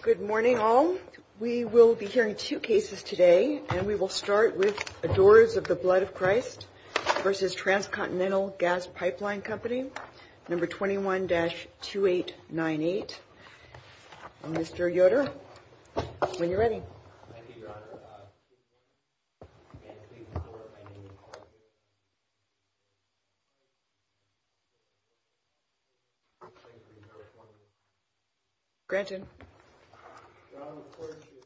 Good morning all. We will be hearing two cases today and we will start with Adorers of the Blood of Christ v. Transcontinental Gas Pipe Line Company, number 21-2898. Mr. Yoder, when you're ready. Thank you, your honor. Gretchen. Your honor, according to your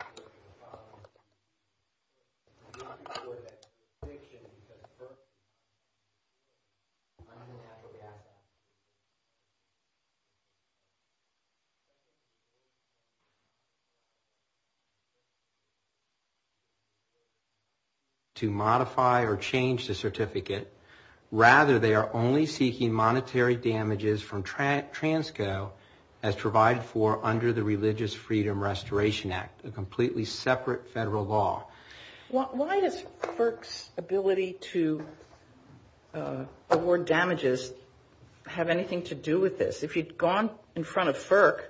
statement, we are working to modify or change the certificate. Rather, they are only seeking monetary damages from Transco as provided for under the Religious Freedom Restoration Act, a completely separate federal law. Why does FERC's ability to award damages have anything to do with this? If you'd gone in front of FERC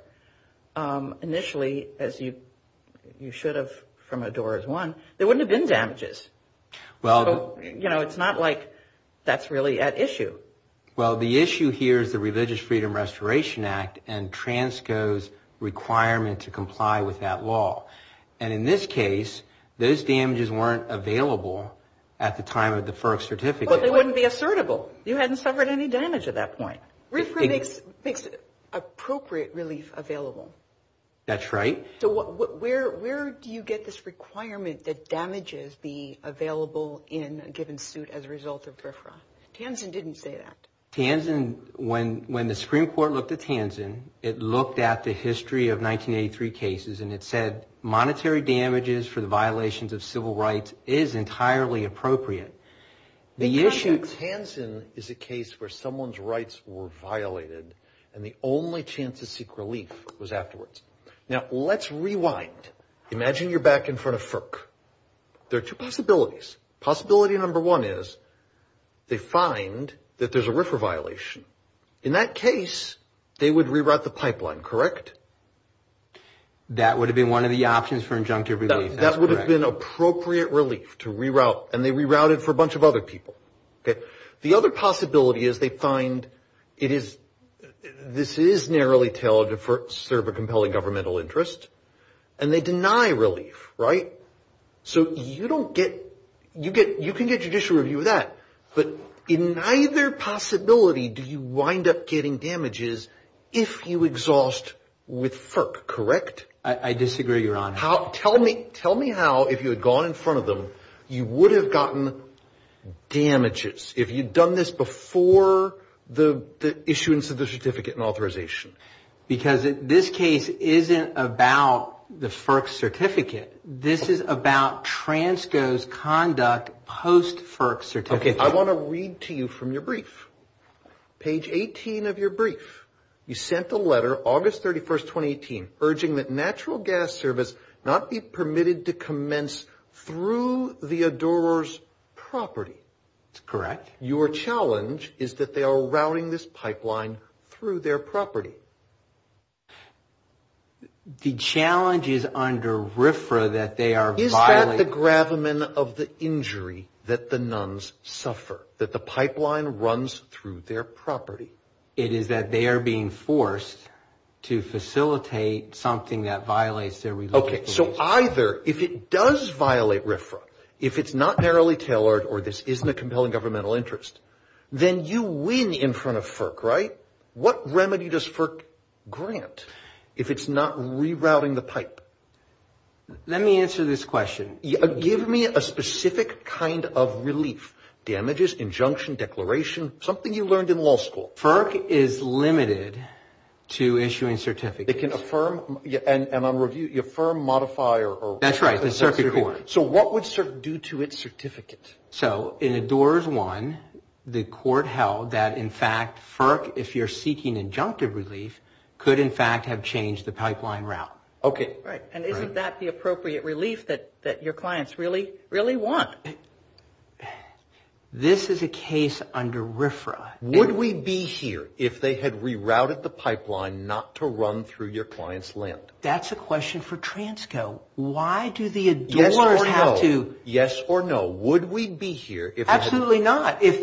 initially, as you should have from Adorers I, there wouldn't have been damages. So, you know, it's not like that's really at issue. Well, the issue here is the Religious Freedom Restoration Act and Transco's requirement to comply with that law. And in this case, those damages weren't available at the time of the FERC certificate. Well, they wouldn't be assertable. You hadn't suffered any damage at that point. RFRA makes appropriate relief available. That's right. So, where do you get this requirement that damages be available in a given suit as a result of RFRA? Tanzen didn't say that. Tanzen, when the Supreme Court looked at Tanzen, it looked at the history of 1983 cases and it said monetary damages for the violations of civil rights is entirely appropriate. Because Tanzen is a case where someone's rights were violated and the only chance to seek relief was afterwards. Now, let's rewind. Imagine you're back in front of FERC. There are two possibilities. Possibility number one is they find that there's a RFRA violation. In that case, they would reroute the pipeline, correct? That would have been one of the options for injunctive relief. That's correct. That would have been appropriate relief to reroute. And they rerouted for a bunch of other people. The other possibility is they find this is narrowly tailored to serve a compelling governmental interest. And they deny relief, right? So, you can get judicial review of that. But in either possibility, do you wind up getting damages if you exhaust with FERC, correct? I disagree, Your Honor. Tell me how, if you had gone in front of them, you would have gotten damages if you'd done this before the issuance of the certificate and authorization. Because this case isn't about the FERC certificate. This is about Transco's conduct post-FERC certificate. Okay, I want to read to you from your brief. Page 18 of your brief. You sent a letter, August 31, 2018, urging that natural gas service not be permitted to commence through the adorers' property. That's correct. Your challenge is that they are routing this pipeline through their property. The challenge is under RFRA that they are violating. What is the gravamen of the injury that the nuns suffer, that the pipeline runs through their property? It is that they are being forced to facilitate something that violates their religious beliefs. Okay, so either, if it does violate RFRA, if it's not narrowly tailored or this isn't a compelling governmental interest, then you win in front of FERC, right? What remedy does FERC grant if it's not rerouting the pipe? Let me answer this question. Give me a specific kind of relief, damages, injunction, declaration, something you learned in law school. FERC is limited to issuing certificates. It can affirm, and on review, affirm, modify, or? That's right, the circuit court. So what would FERC do to its certificate? So in Adorers 1, the court held that, in fact, FERC, if you're seeking injunctive relief, could, in fact, have changed the pipeline route. Okay. Right, and isn't that the appropriate relief that your clients really, really want? This is a case under RFRA. Would we be here if they had rerouted the pipeline not to run through your client's land? That's a question for Transco. Why do the Adorers have to? Yes or no. Yes or no. Would we be here if they had? Absolutely not. If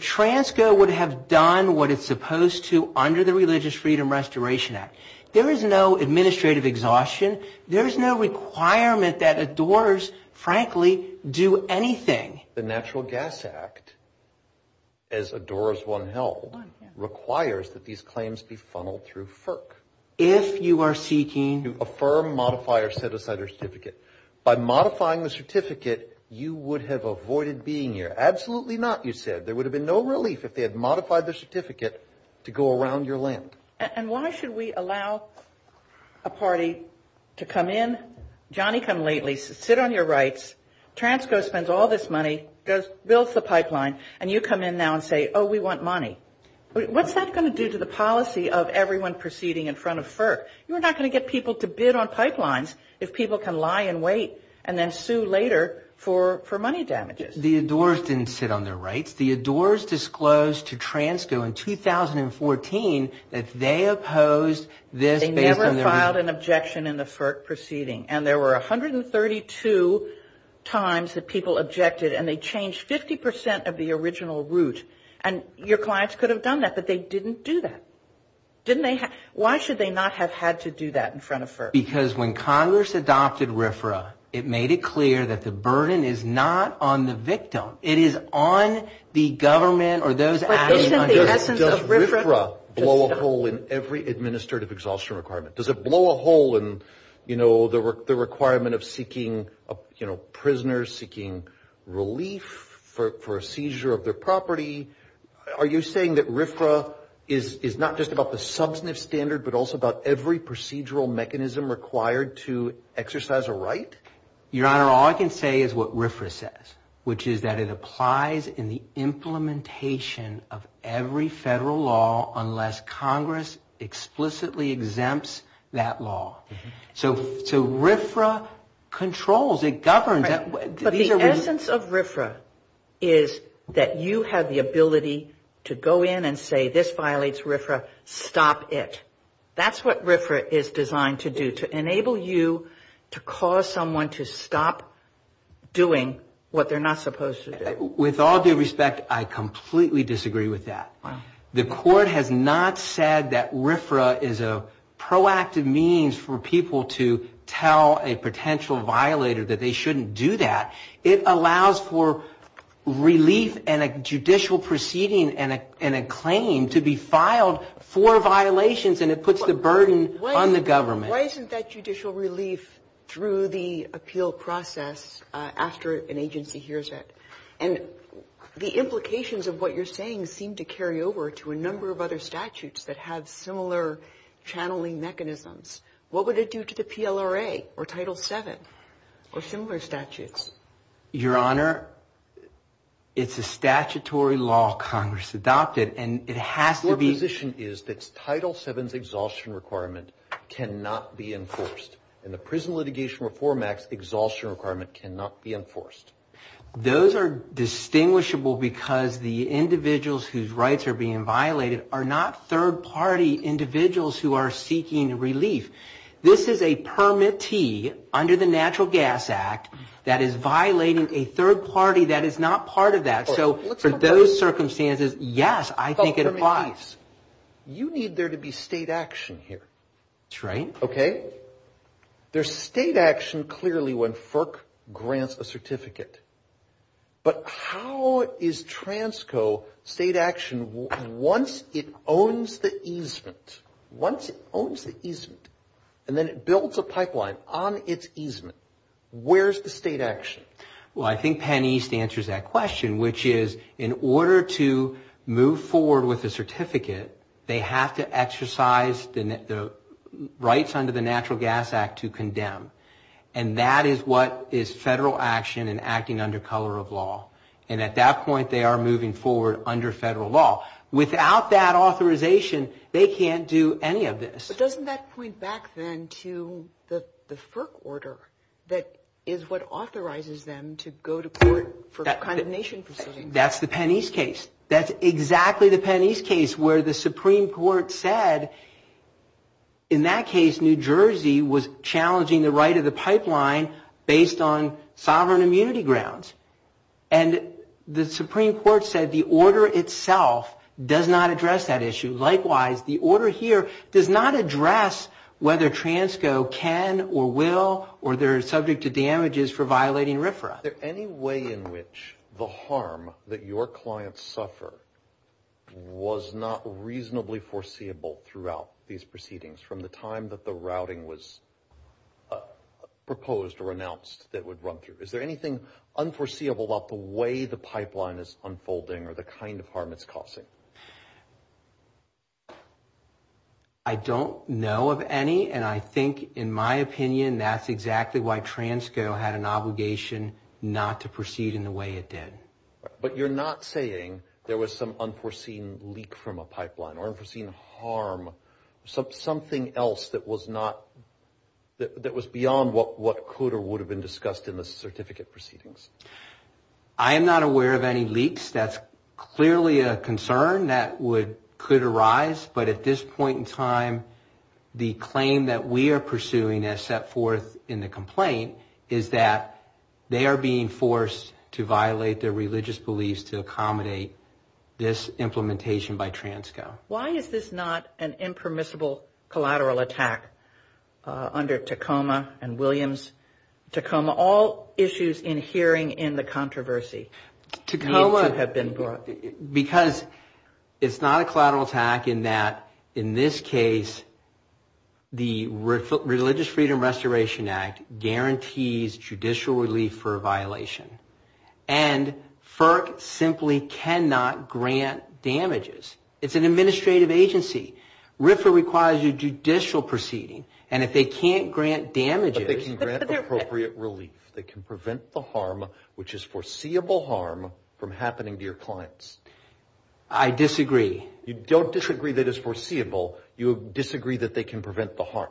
Transco would have done what it's supposed to under the Religious Freedom Restoration Act. There is no administrative exhaustion. There is no requirement that Adorers, frankly, do anything. The Natural Gas Act, as Adorers 1 held, requires that these claims be funneled through FERC. If you are seeking? To affirm, modify, or set aside a certificate. By modifying the certificate, you would have avoided being here. Absolutely not, you said. There would have been no relief if they had modified the certificate to go around your land. And why should we allow a party to come in? Johnny, come lately. Sit on your rights. Transco spends all this money, builds the pipeline, and you come in now and say, oh, we want money. What's that going to do to the policy of everyone proceeding in front of FERC? You're not going to get people to bid on pipelines if people can lie in wait and then sue later for money damages. The Adorers didn't sit on their rights. It's the Adorers disclosed to Transco in 2014 that they opposed this based on their reason. They never filed an objection in the FERC proceeding. And there were 132 times that people objected, and they changed 50 percent of the original route. And your clients could have done that, but they didn't do that. Why should they not have had to do that in front of FERC? Because when Congress adopted RFRA, it made it clear that the burden is not on the victim. It is on the government or those actors. But isn't the essence of RFRA? Does RFRA blow a hole in every administrative exhaustion requirement? Does it blow a hole in, you know, the requirement of seeking, you know, prisoners, seeking relief for a seizure of their property? Are you saying that RFRA is not just about the substantive standard but also about every procedural mechanism required to exercise a right? Your Honor, all I can say is what RFRA says, which is that it applies in the implementation of every federal law unless Congress explicitly exempts that law. So RFRA controls. It governs. But the essence of RFRA is that you have the ability to go in and say this violates RFRA. Stop it. That's what RFRA is designed to do, to enable you to cause someone to stop doing what they're not supposed to do. With all due respect, I completely disagree with that. The court has not said that RFRA is a proactive means for people to tell a potential violator that they shouldn't do that. It allows for relief and a judicial proceeding and a claim to be filed for violations, and it puts the burden on the government. Why isn't that judicial relief through the appeal process after an agency hears it? And the implications of what you're saying seem to carry over to a number of other statutes that have similar channeling mechanisms. What would it do to the PLRA or Title VII or similar statutes? Your Honor, it's a statutory law Congress adopted, and it has to be. Your position is that Title VII's exhaustion requirement cannot be enforced, and the Prison Litigation Reform Act's exhaustion requirement cannot be enforced. Those are distinguishable because the individuals whose rights are being violated are not third-party individuals who are seeking relief. This is a permittee under the Natural Gas Act that is violating a third party that is not part of that. So for those circumstances, yes, I think it applies. But, permittees, you need there to be state action here. That's right. Okay? There's state action clearly when FERC grants a certificate. But how is TRANSCO state action once it owns the easement, once it owns the easement, and then it builds a pipeline on its easement? Where's the state action? Well, I think Penn East answers that question, which is in order to move forward with a certificate, they have to exercise the rights under the Natural Gas Act to condemn. And that is what is federal action and acting under color of law. And at that point, they are moving forward under federal law. Without that authorization, they can't do any of this. But doesn't that point back then to the FERC order that is what authorizes them to go to court for condemnation proceedings? That's the Penn East case. That's exactly the Penn East case where the Supreme Court said, in that case, New Jersey was challenging the right of the pipeline based on sovereign immunity grounds. And the Supreme Court said the order itself does not address that issue. Likewise, the order here does not address whether TRANSCO can or will or they're subject to damages for violating RFRA. Is there any way in which the harm that your clients suffer was not reasonably foreseeable throughout these proceedings from the time that the routing was proposed or announced that would run through? Is there anything unforeseeable about the way the pipeline is unfolding or the kind of harm it's causing? I don't know of any. And I think, in my opinion, that's exactly why TRANSCO had an obligation not to proceed in the way it did. But you're not saying there was some unforeseen leak from a pipeline or unforeseen harm, something else that was beyond what could or would have been discussed in the certificate proceedings? I am not aware of any leaks. That's clearly a concern that could arise. But at this point in time, the claim that we are pursuing as set forth in the complaint is that they are being forced to violate their religious beliefs to accommodate this implementation by TRANSCO. Why is this not an impermissible collateral attack under Tacoma and Williams? Tacoma, all issues in hearing in the controversy. Tacoma, because it's not a collateral attack in that, in this case, the Religious Freedom Restoration Act guarantees judicial relief for a violation. And FERC simply cannot grant damages. It's an administrative agency. RFRA requires a judicial proceeding. And if they can't grant damages... But they can grant appropriate relief. They can prevent the harm, which is foreseeable harm, from happening to your clients. I disagree. You don't disagree that it's foreseeable. You disagree that they can prevent the harm.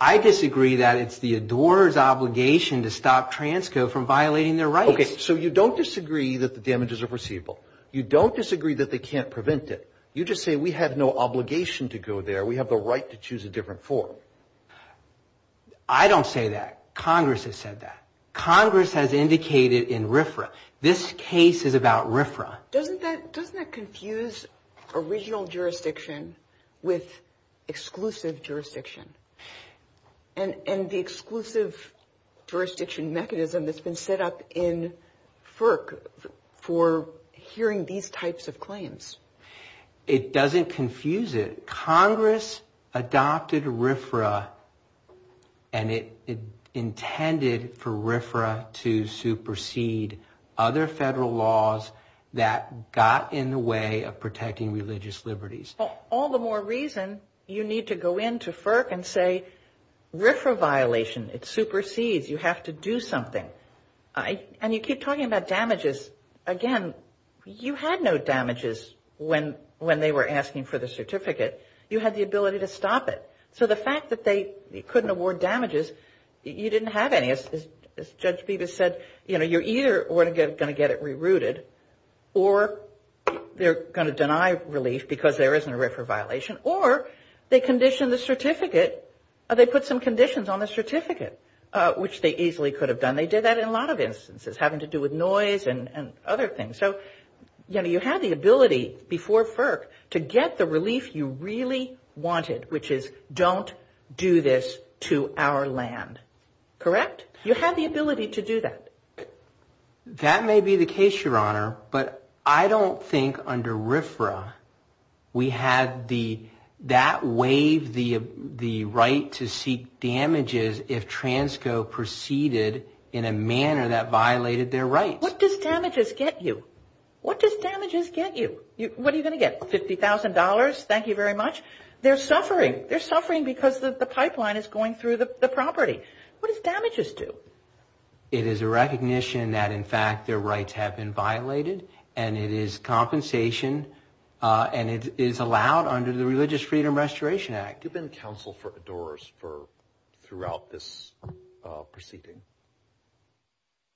I disagree that it's the adorers' obligation to stop TRANSCO from violating their rights. Okay, so you don't disagree that the damages are foreseeable. You don't disagree that they can't prevent it. You just say we have no obligation to go there. We have the right to choose a different form. I don't say that. Congress has said that. Congress has indicated in RFRA. This case is about RFRA. Doesn't that confuse original jurisdiction with exclusive jurisdiction? And the exclusive jurisdiction mechanism that's been set up in FERC for hearing these types of claims? It doesn't confuse it. Congress adopted RFRA, and it intended for RFRA to supersede other federal laws that got in the way of protecting religious liberties. All the more reason you need to go into FERC and say RFRA violation. It supersedes. You have to do something. And you keep talking about damages. Again, you had no damages when they were asking for the certificate. You had the ability to stop it. So the fact that they couldn't award damages, you didn't have any. As Judge Bevis said, you know, you're either going to get it rerouted or they're going to deny relief because there isn't a RFRA violation, or they condition the certificate or they put some conditions on the certificate, which they easily could have done. They did that in a lot of instances having to do with noise and other things. So, you know, you had the ability before FERC to get the relief you really wanted, which is don't do this to our land. Correct? You had the ability to do that. That may be the case, Your Honor. But I don't think under RFRA we had that waive the right to seek damages if TRANSCO proceeded in a manner that violated their rights. What does damages get you? What does damages get you? What are you going to get, $50,000? Thank you very much. They're suffering. They're suffering because the pipeline is going through the property. What does damages do? It is a recognition that in fact their rights have been violated, and it is compensation, and it is allowed under the Religious Freedom Restoration Act. You've been counsel for ADORs throughout this proceeding.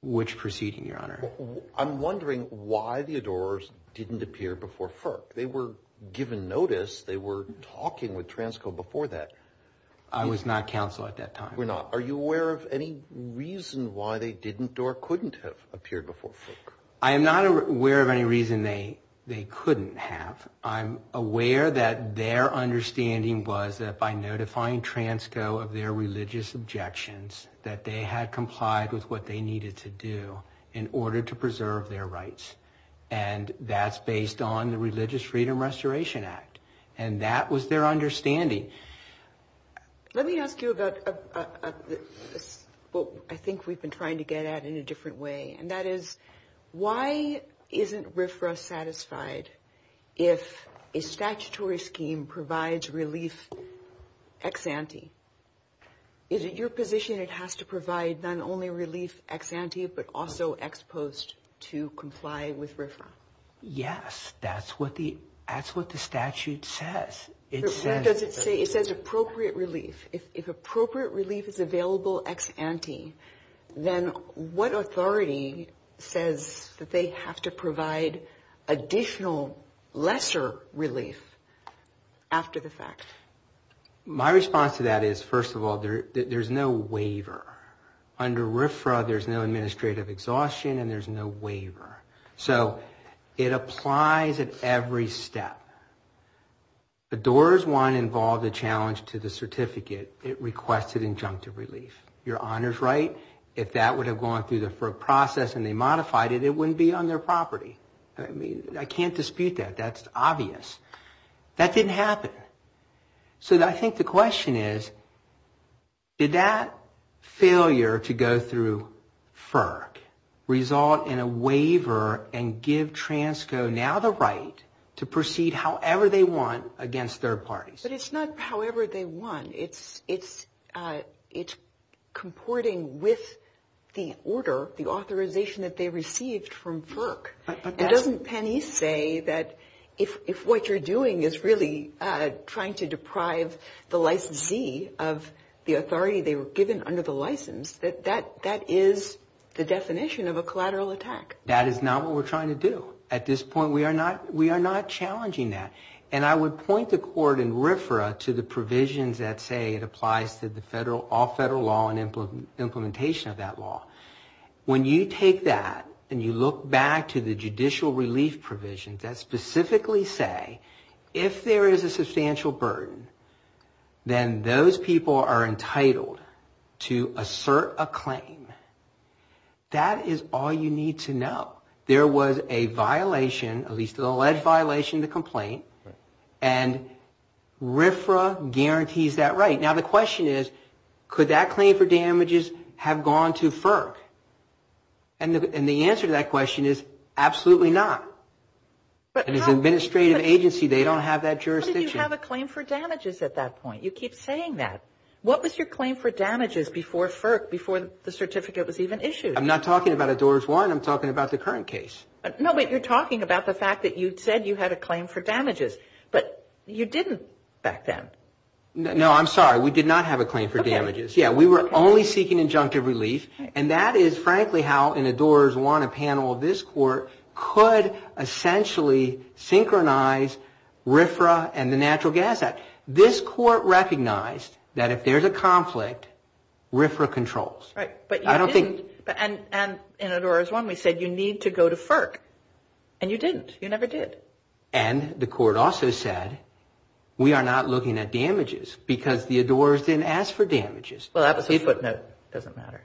Which proceeding, Your Honor? I'm wondering why the ADORs didn't appear before FERC. They were given notice. They were talking with TRANSCO before that. I was not counsel at that time. You were not. Are you aware of any reason why they didn't or couldn't have appeared before FERC? I am not aware of any reason they couldn't have. I'm aware that their understanding was that by notifying TRANSCO of their religious objections, that they had complied with what they needed to do in order to preserve their rights. And that's based on the Religious Freedom Restoration Act. And that was their understanding. Let me ask you about what I think we've been trying to get at in a different way, and that is why isn't RFRA satisfied if a statutory scheme provides relief ex ante? Is it your position it has to provide not only relief ex ante but also ex post to comply with RFRA? Yes. That's what the statute says. What does it say? It says appropriate relief. If appropriate relief is available ex ante, then what authority says that they have to provide additional lesser relief after the fact? My response to that is, first of all, there's no waiver. Under RFRA, there's no administrative exhaustion and there's no waiver. So it applies at every step. The Doors 1 involved a challenge to the certificate. It requested injunctive relief. Your Honor's right. If that would have gone through the FERC process and they modified it, it wouldn't be on their property. I mean, I can't dispute that. That's obvious. That didn't happen. So I think the question is, did that failure to go through FERC result in a waiver and give TRANSCO now the right to proceed however they want against third parties? But it's not however they want. It's comporting with the order, the authorization that they received from FERC. Doesn't Penney say that if what you're doing is really trying to deprive the licensee of the authority they were given under the license, that that is the definition of a collateral attack? That is not what we're trying to do. At this point, we are not challenging that. And I would point the Court in RFRA to the provisions that say it applies to all federal law and implementation of that law. When you take that and you look back to the judicial relief provisions that specifically say, if there is a substantial burden, then those people are entitled to assert a claim. That is all you need to know. There was a violation, at least an alleged violation of the complaint, and RFRA guarantees that right. Now the question is, could that claim for damages have gone to FERC? And the answer to that question is, absolutely not. It is an administrative agency. They don't have that jurisdiction. But how did you have a claim for damages at that point? You keep saying that. What was your claim for damages before FERC, before the certificate was even issued? I'm not talking about a Doris Warren. I'm talking about the current case. No, but you're talking about the fact that you said you had a claim for damages. But you didn't back then. No, I'm sorry. We did not have a claim for damages. Okay. Yeah, we were only seeking injunctive relief. And that is, frankly, how in a Doris Warren panel, this Court could essentially synchronize RFRA and the Natural Gas Act. This Court recognized that if there's a conflict, RFRA controls. Right. But you didn't. And in a Doris Warren, we said you need to go to FERC. And you didn't. You never did. And the Court also said we are not looking at damages because the adorers didn't ask for damages. Well, that was a footnote. It doesn't matter.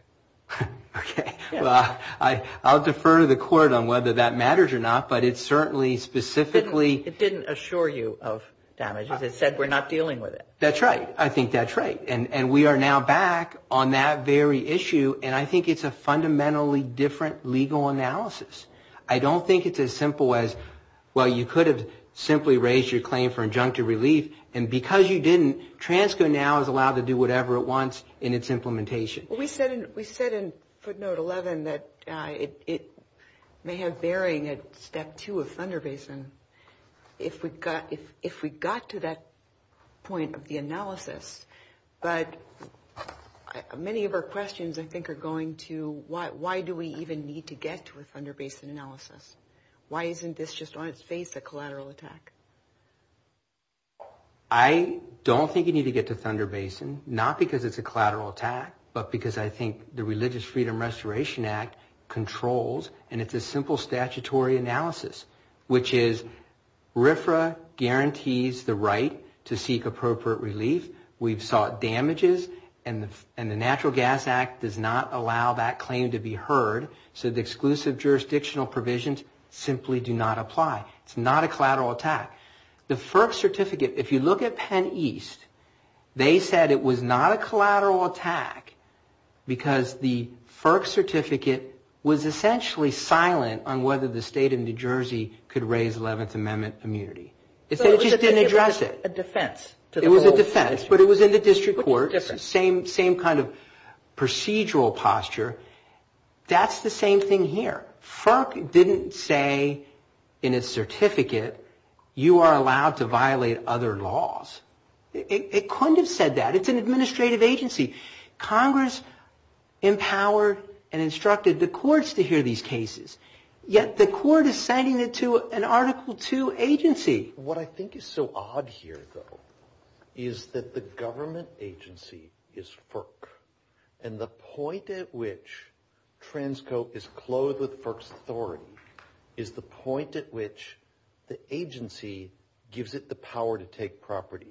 Okay. Well, I'll defer to the Court on whether that matters or not, but it certainly specifically – It didn't assure you of damages. It said we're not dealing with it. That's right. I think that's right. And we are now back on that very issue, and I think it's a fundamentally different legal analysis. I don't think it's as simple as, well, you could have simply raised your claim for injunctive relief, and because you didn't, TRANSCO now is allowed to do whatever it wants in its implementation. We said in footnote 11 that it may have bearing at step two of Thunder Basin if we got to that point of the analysis. But many of our questions, I think, are going to, why do we even need to get to a Thunder Basin analysis? Why isn't this just on its face a collateral attack? I don't think you need to get to Thunder Basin, not because it's a collateral attack, but because I think the Religious Freedom Restoration Act controls, and it's a simple statutory analysis, which is RFRA guarantees the right to seek appropriate relief. We've sought damages, and the Natural Gas Act does not allow that claim to be heard, so the exclusive jurisdictional provisions simply do not apply. It's not a collateral attack. The FERC certificate, if you look at Penn East, they said it was not a collateral attack because the FERC certificate was essentially silent on whether the state of New Jersey could raise Eleventh Amendment immunity. It just didn't address it. It was a defense. It was a defense, but it was in the district courts. It's the same kind of procedural posture. That's the same thing here. FERC didn't say in its certificate, you are allowed to violate other laws. It couldn't have said that. It's an administrative agency. Congress empowered and instructed the courts to hear these cases, yet the court is sending it to an Article II agency. What I think is so odd here, though, is that the government agency is FERC, and the point at which Transco is clothed with FERC's authority is the point at which the agency gives it the power to take property.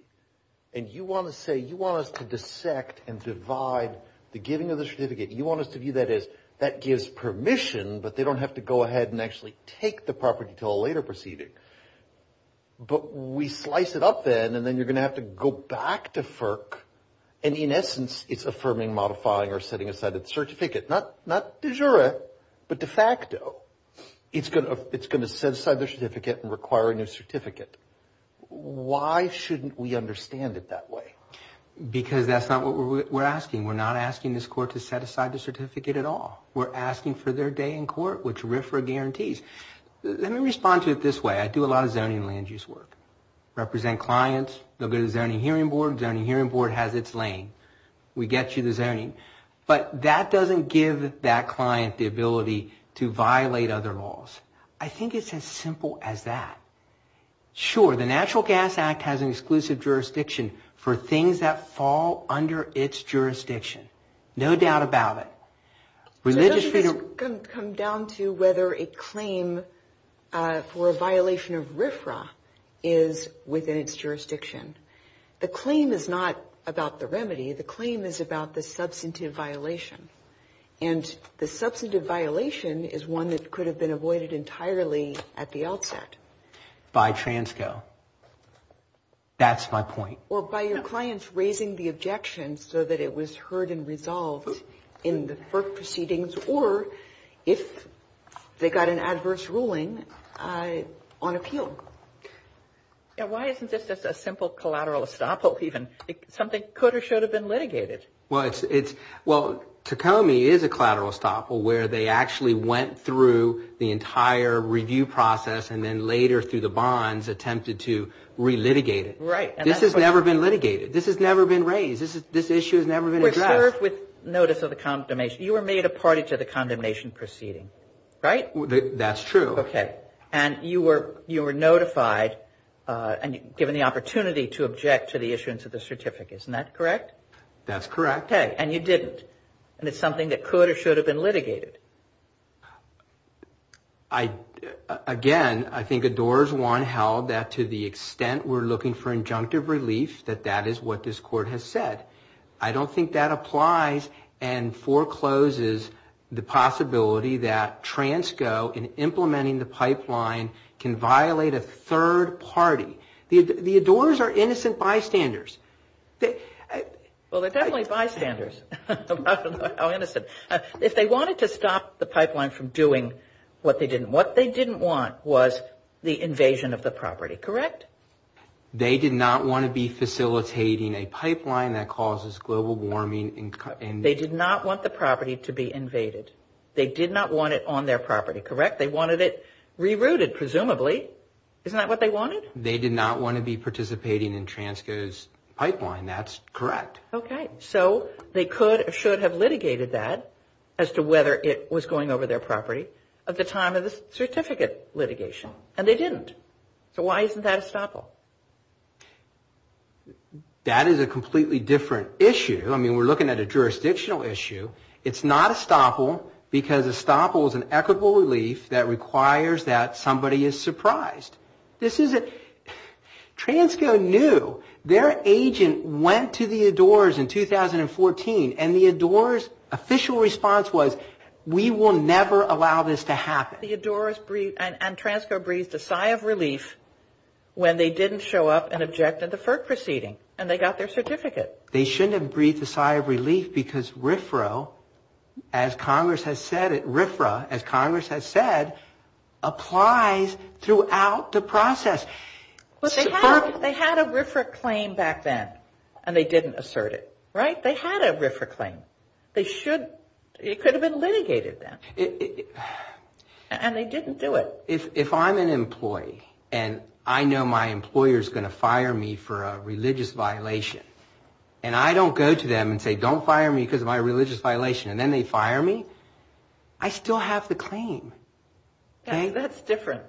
And you want to say you want us to dissect and divide the giving of the certificate. You want us to view that as that gives permission, but they don't have to go ahead and actually take the property until a later proceeding. But we slice it up then, and then you're going to have to go back to FERC, and in essence it's affirming, modifying, or setting aside the certificate. Not de jure, but de facto. It's going to set aside the certificate and require a new certificate. Why shouldn't we understand it that way? Because that's not what we're asking. We're not asking this court to set aside the certificate at all. We're asking for their day in court, which RFRA guarantees. Let me respond to it this way. I do a lot of zoning land use work. Represent clients. They'll go to the zoning hearing board. The zoning hearing board has its lane. We get you the zoning. But that doesn't give that client the ability to violate other laws. I think it's as simple as that. Sure, the Natural Gas Act has an exclusive jurisdiction for things that fall under its jurisdiction. No doubt about it. It doesn't come down to whether a claim for a violation of RFRA is within its jurisdiction. The claim is not about the remedy. The claim is about the substantive violation. And the substantive violation is one that could have been avoided entirely at the outset. By transco. That's my point. Or by your clients raising the objection so that it was heard and resolved in the FERC proceedings. Or if they got an adverse ruling on appeal. Why isn't this just a simple collateral estoppel even? Something could or should have been litigated. Well, Tacomi is a collateral estoppel where they actually went through the entire review process and then later through the bonds attempted to re-litigate it. Right. This has never been litigated. This has never been raised. This issue has never been addressed. We serve with notice of the condemnation. You were made a party to the condemnation proceeding. Right? That's true. Okay. And you were notified and given the opportunity to object to the issuance of the certificate. Isn't that correct? That's correct. Okay. And you didn't. And it's something that could or should have been litigated. Again, I think ADOR's one held that to the extent we're looking for injunctive relief, that that is what this court has said. I don't think that applies and forecloses the possibility that TRANSCO in implementing the pipeline can violate a third party. The ADORs are innocent bystanders. How innocent? If they wanted to stop the pipeline from doing what they didn't want, what they didn't want was the invasion of the property. Correct? They did not want to be facilitating a pipeline that causes global warming. They did not want the property to be invaded. They did not want it on their property. Correct? They wanted it rerouted, presumably. Isn't that what they wanted? They did not want to be participating in TRANSCO's pipeline. That's correct. Okay. So they could or should have litigated that as to whether it was going over their property at the time of the certificate litigation. And they didn't. So why isn't that estoppel? That is a completely different issue. I mean, we're looking at a jurisdictional issue. It's not estoppel because estoppel is an equitable relief that requires that somebody is surprised. This isn't... TRANSCO knew. Their agent went to the Adores in 2014, and the Adores' official response was, we will never allow this to happen. The Adores and TRANSCO breathed a sigh of relief when they didn't show up and objected to FERC proceeding, and they got their certificate. They shouldn't have breathed a sigh of relief because RFRA, as Congress has said, applies throughout the process. But they had a RFRA claim back then, and they didn't assert it, right? They had a RFRA claim. They should... It could have been litigated then, and they didn't do it. If I'm an employee, and I know my employer is going to fire me for a religious violation, and I don't go to them and say, don't fire me because of my religious violation, and then they fire me, I still have the claim. Okay? That's different.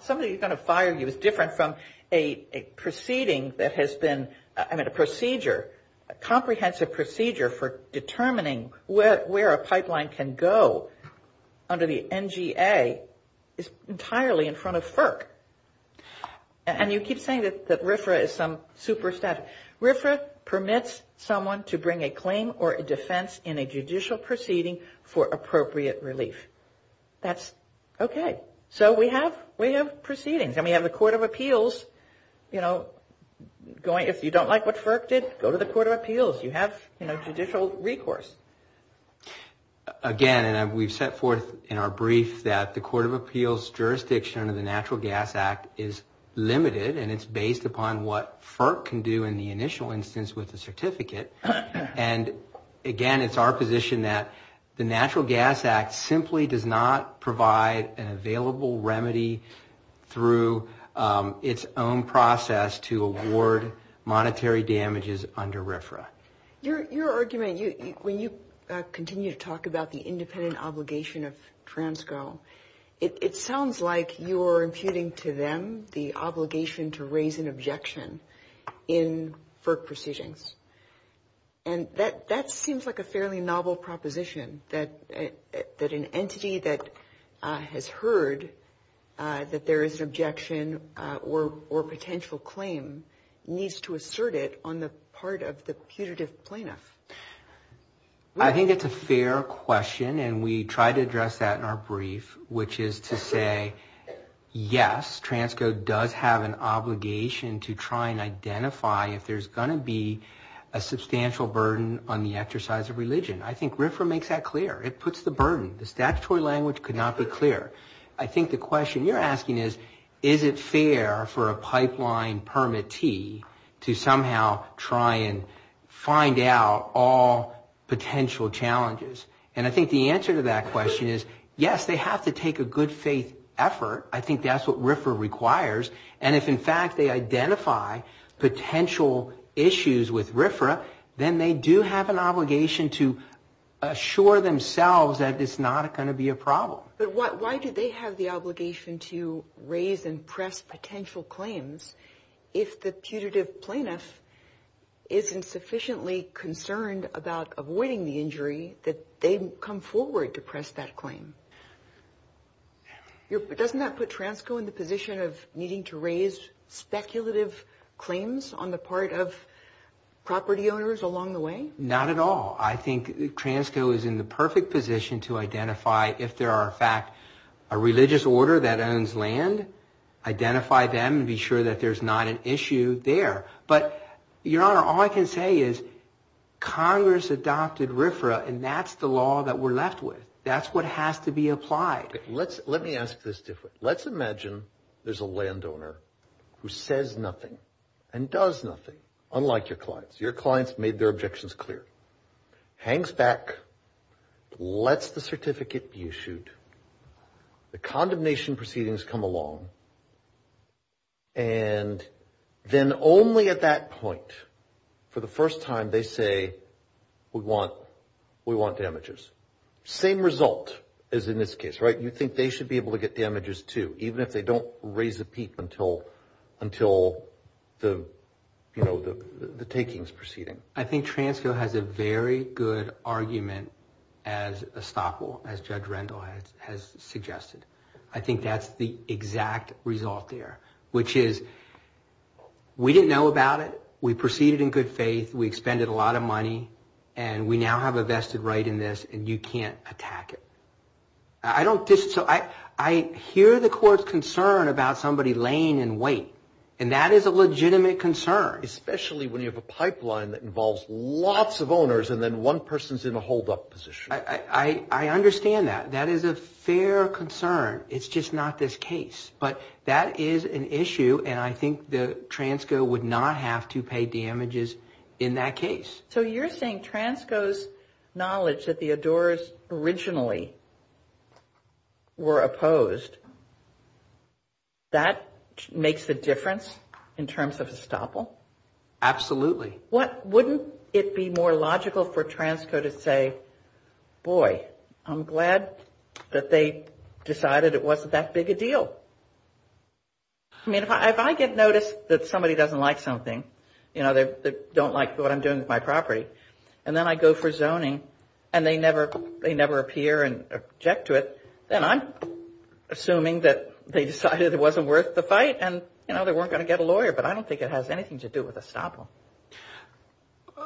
Somebody who's going to fire you is different from a proceeding that has been... I mean, a procedure, a comprehensive procedure for determining where a pipeline can go under the NGA is entirely in front of FERC. And you keep saying that RFRA is some super statute. Okay. RFRA permits someone to bring a claim or a defense in a judicial proceeding for appropriate relief. That's... Okay. So we have proceedings, and we have the Court of Appeals, you know, going... If you don't like what FERC did, go to the Court of Appeals. You have, you know, judicial recourse. Again, and we've set forth in our brief that the Court of Appeals jurisdiction under the Natural Gas Act is limited, and it's based upon what FERC can do in the initial instance with the certificate. And, again, it's our position that the Natural Gas Act simply does not provide an available remedy through its own process to award monetary damages under RFRA. Your argument, when you continue to talk about the independent obligation of Transco, it sounds like you are imputing to them the obligation to raise an objection in FERC proceedings. And that seems like a fairly novel proposition, that an entity that has heard that there is an objection or potential claim needs to assert it on the part of the putative plaintiff. I think it's a fair question, and we try to address that in our brief, which is to say, yes, Transco does have an obligation to try and identify if there's going to be a substantial burden on the exercise of religion. I think RFRA makes that clear. It puts the burden. The statutory language could not be clearer. I think the question you're asking is, is it fair for a pipeline permittee to somehow try and find out all potential challenges? And I think the answer to that question is, yes, they have to take a good faith effort. I think that's what RFRA requires. And if, in fact, they identify potential issues with RFRA, then they do have an obligation to assure themselves that it's not going to be a problem. But why do they have the obligation to raise and press potential claims if the putative plaintiff isn't sufficiently concerned about avoiding the injury that they come forward to press that claim? Doesn't that put Transco in the position of needing to raise speculative claims on the part of property owners along the way? Not at all. I think Transco is in the perfect position to identify if there are, in fact, a religious order that owns land, identify them and be sure that there's not an issue there. But, Your Honor, all I can say is Congress adopted RFRA, and that's the law that we're left with. That's what has to be applied. Let me ask this different. Let's imagine there's a landowner who says nothing and does nothing, unlike your clients. Your clients made their objections clear, hangs back, lets the certificate be issued, the condemnation proceedings come along, and then only at that point, for the first time, they say, we want damages. Same result as in this case, right? You think they should be able to get damages, too, even if they don't raise a peep until the taking is proceeding? I think Transco has a very good argument as estoppel, as Judge Rendell has suggested. I think that's the exact result there, which is we didn't know about it. We proceeded in good faith. We expended a lot of money, and we now have a vested right in this, and you can't attack it. I hear the court's concern about somebody laying in wait, and that is a legitimate concern. Especially when you have a pipeline that involves lots of owners, and then one person's in a hold-up position. I understand that. That is a fair concern. It's just not this case, but that is an issue, and I think that Transco would not have to pay damages in that case. So you're saying Transco's knowledge that the Adores originally were opposed, that makes the difference in terms of estoppel? Absolutely. Wouldn't it be more logical for Transco to say, boy, I'm glad that they decided it wasn't that big a deal? I mean, if I get notice that somebody doesn't like something, you know, they don't like what I'm doing with my property, and then I go for zoning, and they never appear and object to it, then I'm assuming that they decided it wasn't worth the fight, and, you know, they weren't going to get a lawyer. But I don't think it has anything to do with estoppel.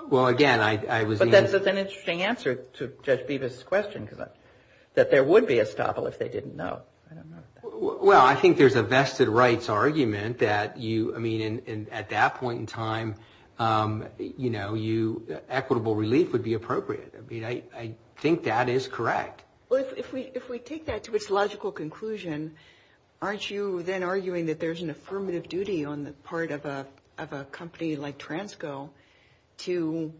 Well, again, I was the answer. But that's an interesting answer to Judge Bevis' question, that there would be estoppel if they didn't know. Well, I think there's a vested rights argument that you, I mean, at that point in time, you know, equitable relief would be appropriate. I mean, I think that is correct. Well, if we take that to its logical conclusion, aren't you then arguing that there's an affirmative duty on the part of a company like Transco to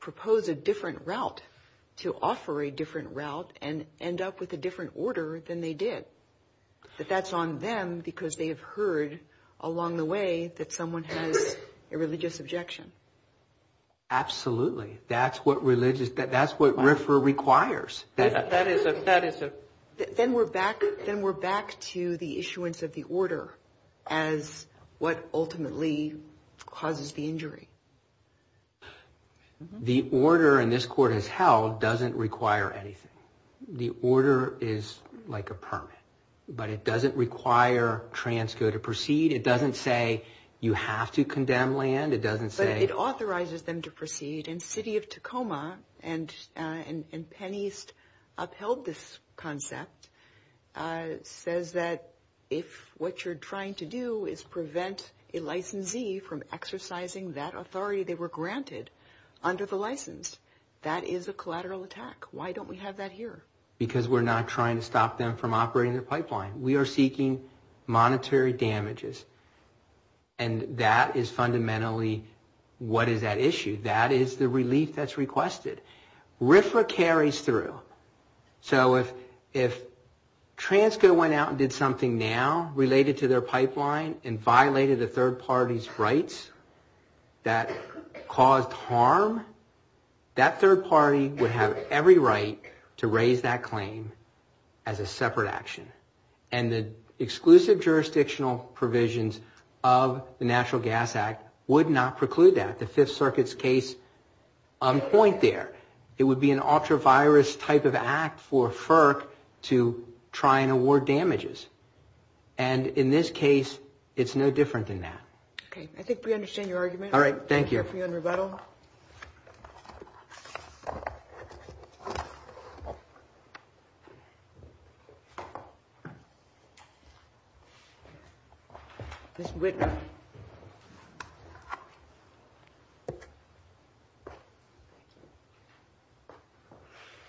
propose a different route, to offer a different route and end up with a different order than they did? That that's on them because they have heard along the way that someone has a religious objection? Absolutely. That's what religious, that's what RFRA requires. That is a, that is a. Then we're back, then we're back to the issuance of the order as what ultimately causes the injury. The order in this court has held doesn't require anything. The order is like a permit, but it doesn't require Transco to proceed. It doesn't say you have to condemn land. It doesn't say. It authorizes them to proceed. And City of Tacoma and Penn East upheld this concept. It says that if what you're trying to do is prevent a licensee from exercising that authority they were granted under the license, that is a collateral attack. Why don't we have that here? Because we're not trying to stop them from operating their pipeline. We are seeking monetary damages. And that is fundamentally what is at issue. That is the relief that's requested. RFRA carries through. So if Transco went out and did something now related to their pipeline and violated a third party's rights that caused harm, that third party would have every right to raise that claim as a separate action. And the exclusive jurisdictional provisions of the National Gas Act would not preclude that. The Fifth Circuit's case on point there. It would be an ultra virus type of act for FERC to try and award damages. And in this case, it's no different than that. Okay. I think we understand your argument. All right. Thank you. We're here for you on rebuttal. Ms. Whitman.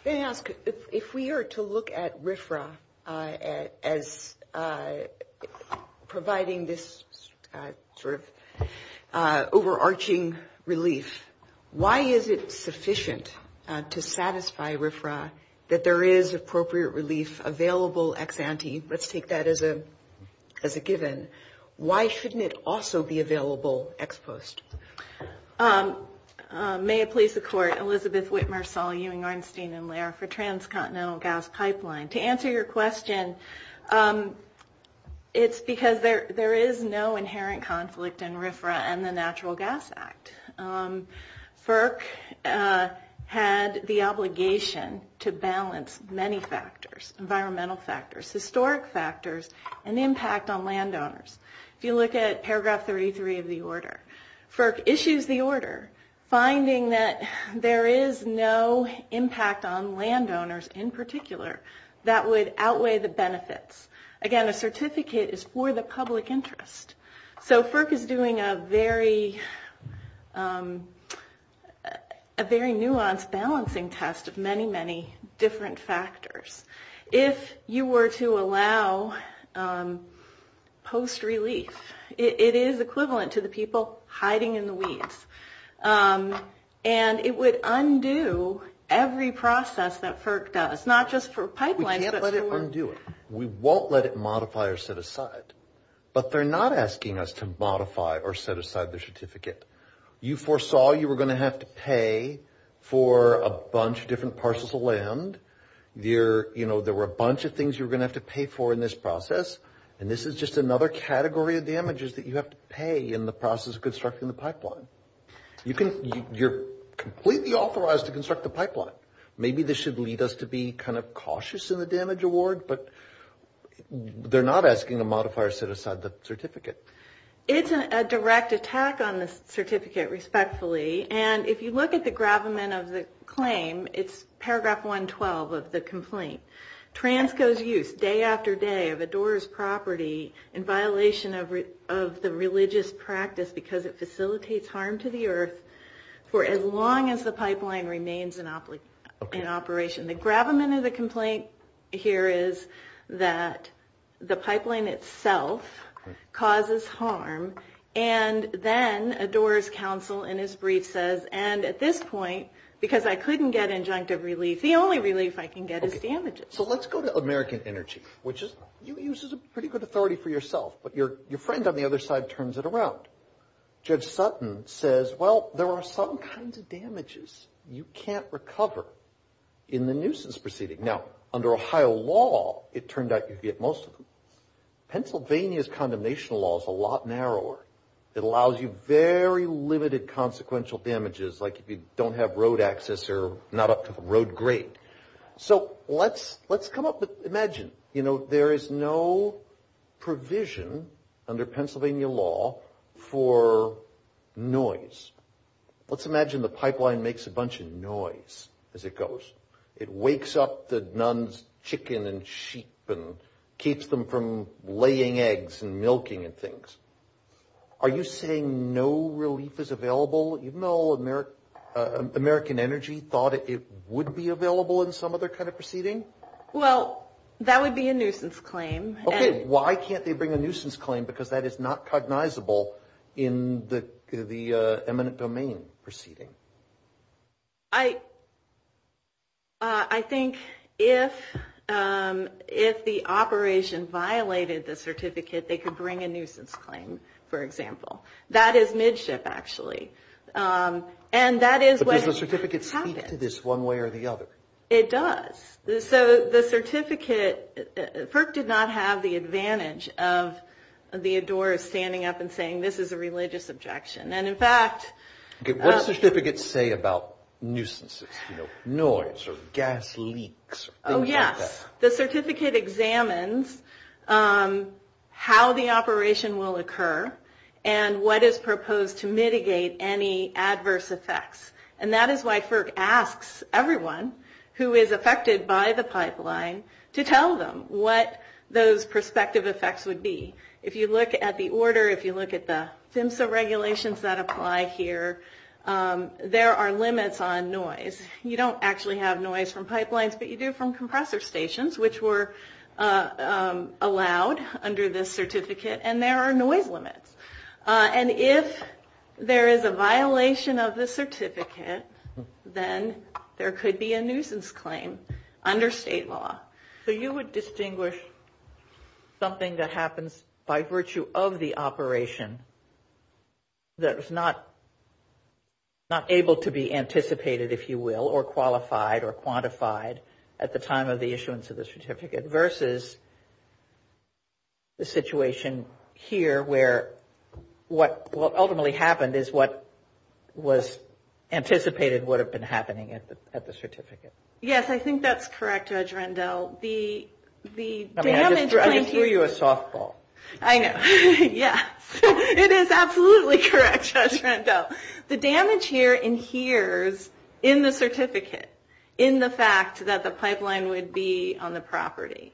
May I ask, if we are to look at RFRA as providing this sort of overarching relief, why is it sufficient to satisfy RFRA that there is appropriate relief available ex ante? Let's take that as a given. Why shouldn't it also be available ex post? May it please the Court. Elizabeth Whitmer, Saul Ewing, Arnstein, and Lehrer for Transcontinental Gas Pipeline. To answer your question, it's because there is no inherent conflict in RFRA and the Natural Gas Act. FERC had the obligation to balance many factors, environmental factors, historic factors, and impact on landowners. If you look at paragraph 33 of the order, FERC issues the order finding that there is no impact on landowners in particular that would outweigh the benefits. Again, a certificate is for the public interest. So FERC is doing a very nuanced balancing test of many, many different factors. If you were to allow post relief, it is equivalent to the people hiding in the weeds. And it would undo every process that FERC does, not just for pipelines, but for... We can't let it undo it. We won't let it modify or set aside. But they're not asking us to modify or set aside the certificate. You foresaw you were going to have to pay for a bunch of different parcels of land. There were a bunch of things you were going to have to pay for in this process. And this is just another category of damages that you have to pay in the process of constructing the pipeline. You're completely authorized to construct the pipeline. Maybe this should lead us to be kind of cautious in the damage award, but they're not asking to modify or set aside the certificate. It's a direct attack on the certificate, respectfully. And if you look at the gravamen of the claim, it's paragraph 112 of the complaint. Transco's use day after day of a door's property in violation of the religious practice because it facilitates harm to the earth for as long as the pipeline remains in operation. The gravamen of the complaint here is that the pipeline itself causes harm. And then a door's counsel in his brief says, and at this point, because I couldn't get injunctive relief, the only relief I can get is damages. So let's go to American Energy, which uses a pretty good authority for yourself. But your friend on the other side turns it around. Judge Sutton says, well, there are some kinds of damages you can't recover in the nuisance proceeding. Now, under Ohio law, it turned out you could get most of them. Pennsylvania's condemnation law is a lot narrower. It allows you very limited consequential damages, like if you don't have road access or not up to the road grade. So let's come up with, imagine, you know, there is no provision under Pennsylvania law for noise. Let's imagine the pipeline makes a bunch of noise as it goes. It wakes up the nuns' chicken and sheep and keeps them from laying eggs and milking and things. Are you saying no relief is available, even though American Energy thought it would be available in some other kind of proceeding? Well, that would be a nuisance claim. Okay. Why can't they bring a nuisance claim? Because that is not cognizable in the eminent domain proceeding. I think if the operation violated the certificate, they could bring a nuisance claim, for example. That is midship, actually. And that is what happens. But does the certificate speak to this one way or the other? It does. So the certificate, FERC did not have the advantage of the adorers standing up and saying, this is a religious objection. And, in fact... What does the certificate say about nuisances, you know, noise or gas leaks or things like that? Oh, yes. The certificate examines how the operation will occur and what is proposed to mitigate any adverse effects. And that is why FERC asks everyone who is affected by the pipeline to tell them what those prospective effects would be. If you look at the order, if you look at the FMSA regulations that apply here, there are limits on noise. You don't actually have noise from pipelines, but you do from compressor stations, which were allowed under this certificate. And there are noise limits. And if there is a violation of the certificate, then there could be a nuisance claim under state law. So you would distinguish something that happens by virtue of the operation that is not able to be anticipated, if you will, or qualified or quantified at the time of the issuance of the certificate, versus the situation here where what ultimately happened is what was anticipated would have been happening at the certificate. Yes, I think that's correct, Judge Rendell. I mean, I just threw you a softball. I know. Yes. It is absolutely correct, Judge Rendell. The damage here adheres in the certificate, in the fact that the pipeline would be on the property.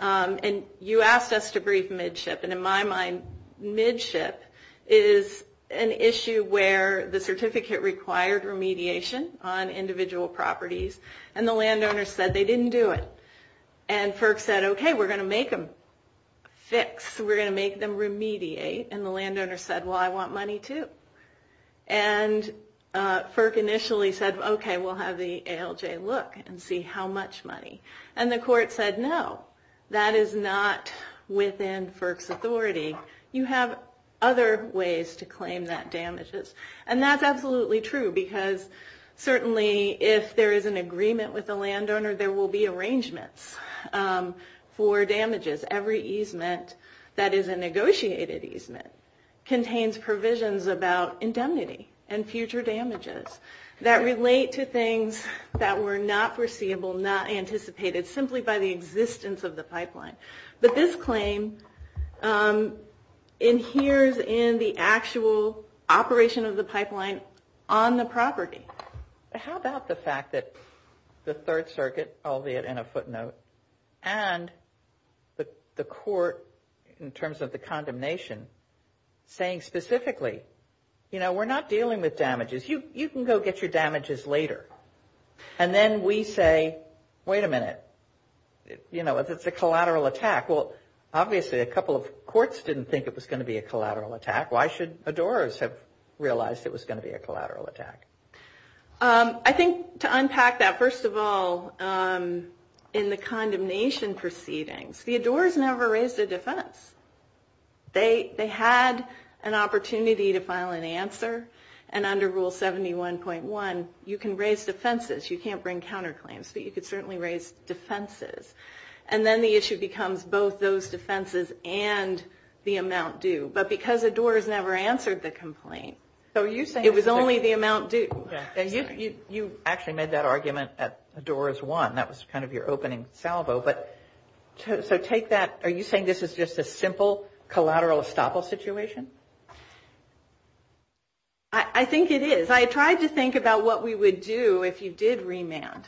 And you asked us to brief Midship. And in my mind, Midship is an issue where the certificate required remediation on individual properties, and the landowner said they didn't do it. And FERC said, OK, we're going to make them fix. We're going to make them remediate. And the landowner said, well, I want money, too. And FERC initially said, OK, we'll have the ALJ look and see how much money. And the court said, no, that is not within FERC's authority. You have other ways to claim that damages. And that's absolutely true, because certainly if there is an agreement with the landowner, there will be arrangements for damages. Every easement that is a negotiated easement contains provisions about indemnity and future damages that relate to things that were not foreseeable, not anticipated, simply by the existence of the pipeline. But this claim adheres in the actual operation of the pipeline on the property. How about the fact that the Third Circuit, albeit in a footnote, and the court in terms of the condemnation saying specifically, you know, we're not dealing with damages. You can go get your damages later. And then we say, wait a minute. You know, it's a collateral attack. Well, obviously, a couple of courts didn't think it was going to be a collateral attack. Why should ADORs have realized it was going to be a collateral attack? I think to unpack that, first of all, in the condemnation proceedings, the ADORs never raised a defense. They had an opportunity to file an answer. And under Rule 71.1, you can raise defenses. You can't bring counterclaims, but you can certainly raise defenses. And then the issue becomes both those defenses and the amount due. But because ADORs never answered the complaint, it was only the amount due. You actually made that argument at ADORs 1. That was kind of your opening salvo. But so take that. Are you saying this is just a simple collateral estoppel situation? I think it is. I tried to think about what we would do if you did remand.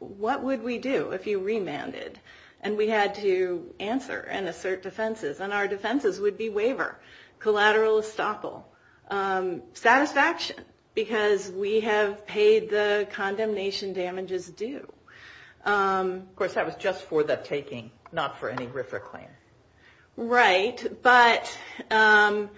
What would we do if you remanded? And we had to answer and assert defenses. And our defenses would be waiver, collateral estoppel, satisfaction. Because we have paid the condemnation damages due. Of course, that was just for the taking, not for any RFRA claim. Right. But I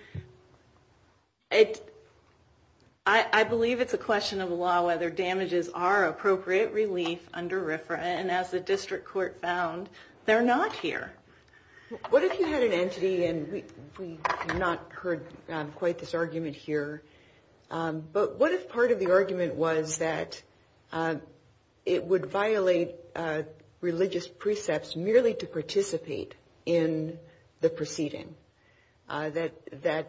believe it's a question of law whether damages are appropriate relief under RFRA. And as the district court found, they're not here. What if you had an entity, and we have not heard quite this argument here, but what if part of the argument was that it would violate religious precepts merely to participate in the proceeding, that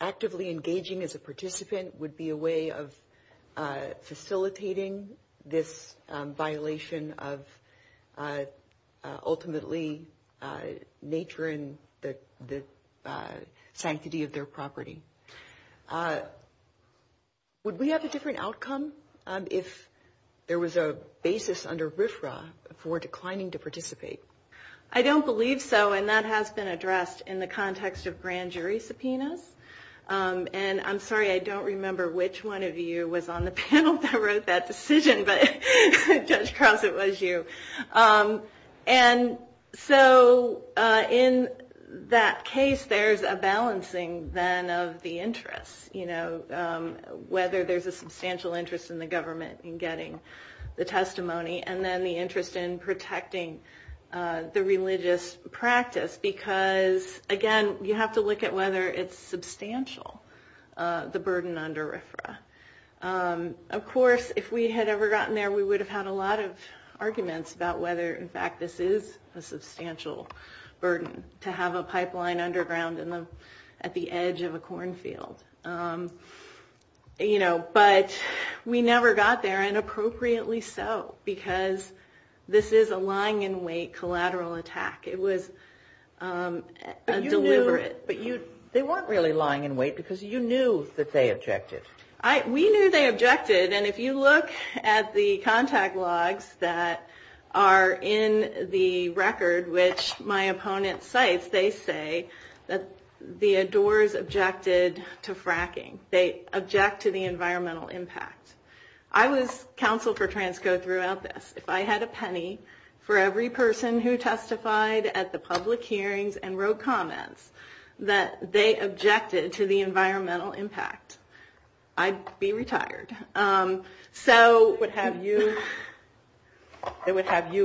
actively engaging as a participant would be a way of facilitating this violation of ultimately nature and the sanctity of their property? Would we have a different outcome if there was a basis under RFRA for declining to participate? I don't believe so. And that has been addressed in the context of grand jury subpoenas. And I'm sorry, I don't remember which one of you was on the panel that wrote that decision, but Judge Cross, it was you. And so in that case, there's a balancing then of the interests, whether there's a substantial interest in the government in getting the testimony and then the interest in protecting the religious practice. Because, again, you have to look at whether it's substantial, the burden under RFRA. Of course, if we had ever gotten there, we would have had a lot of arguments about whether, in fact, this is a substantial burden to have a pipeline underground at the edge of a cornfield. But we never got there, and appropriately so, because this is a lying in wait collateral attack. It was deliberate. But they weren't really lying in wait because you knew that they objected. We knew they objected. And if you look at the contact logs that are in the record, which my opponent cites, they say that the Adores objected to fracking. They object to the environmental impact. I was counsel for Transco throughout this. If I had a penny for every person who testified at the public hearings and wrote comments, that they objected to the environmental impact, I'd be retired. So it would have you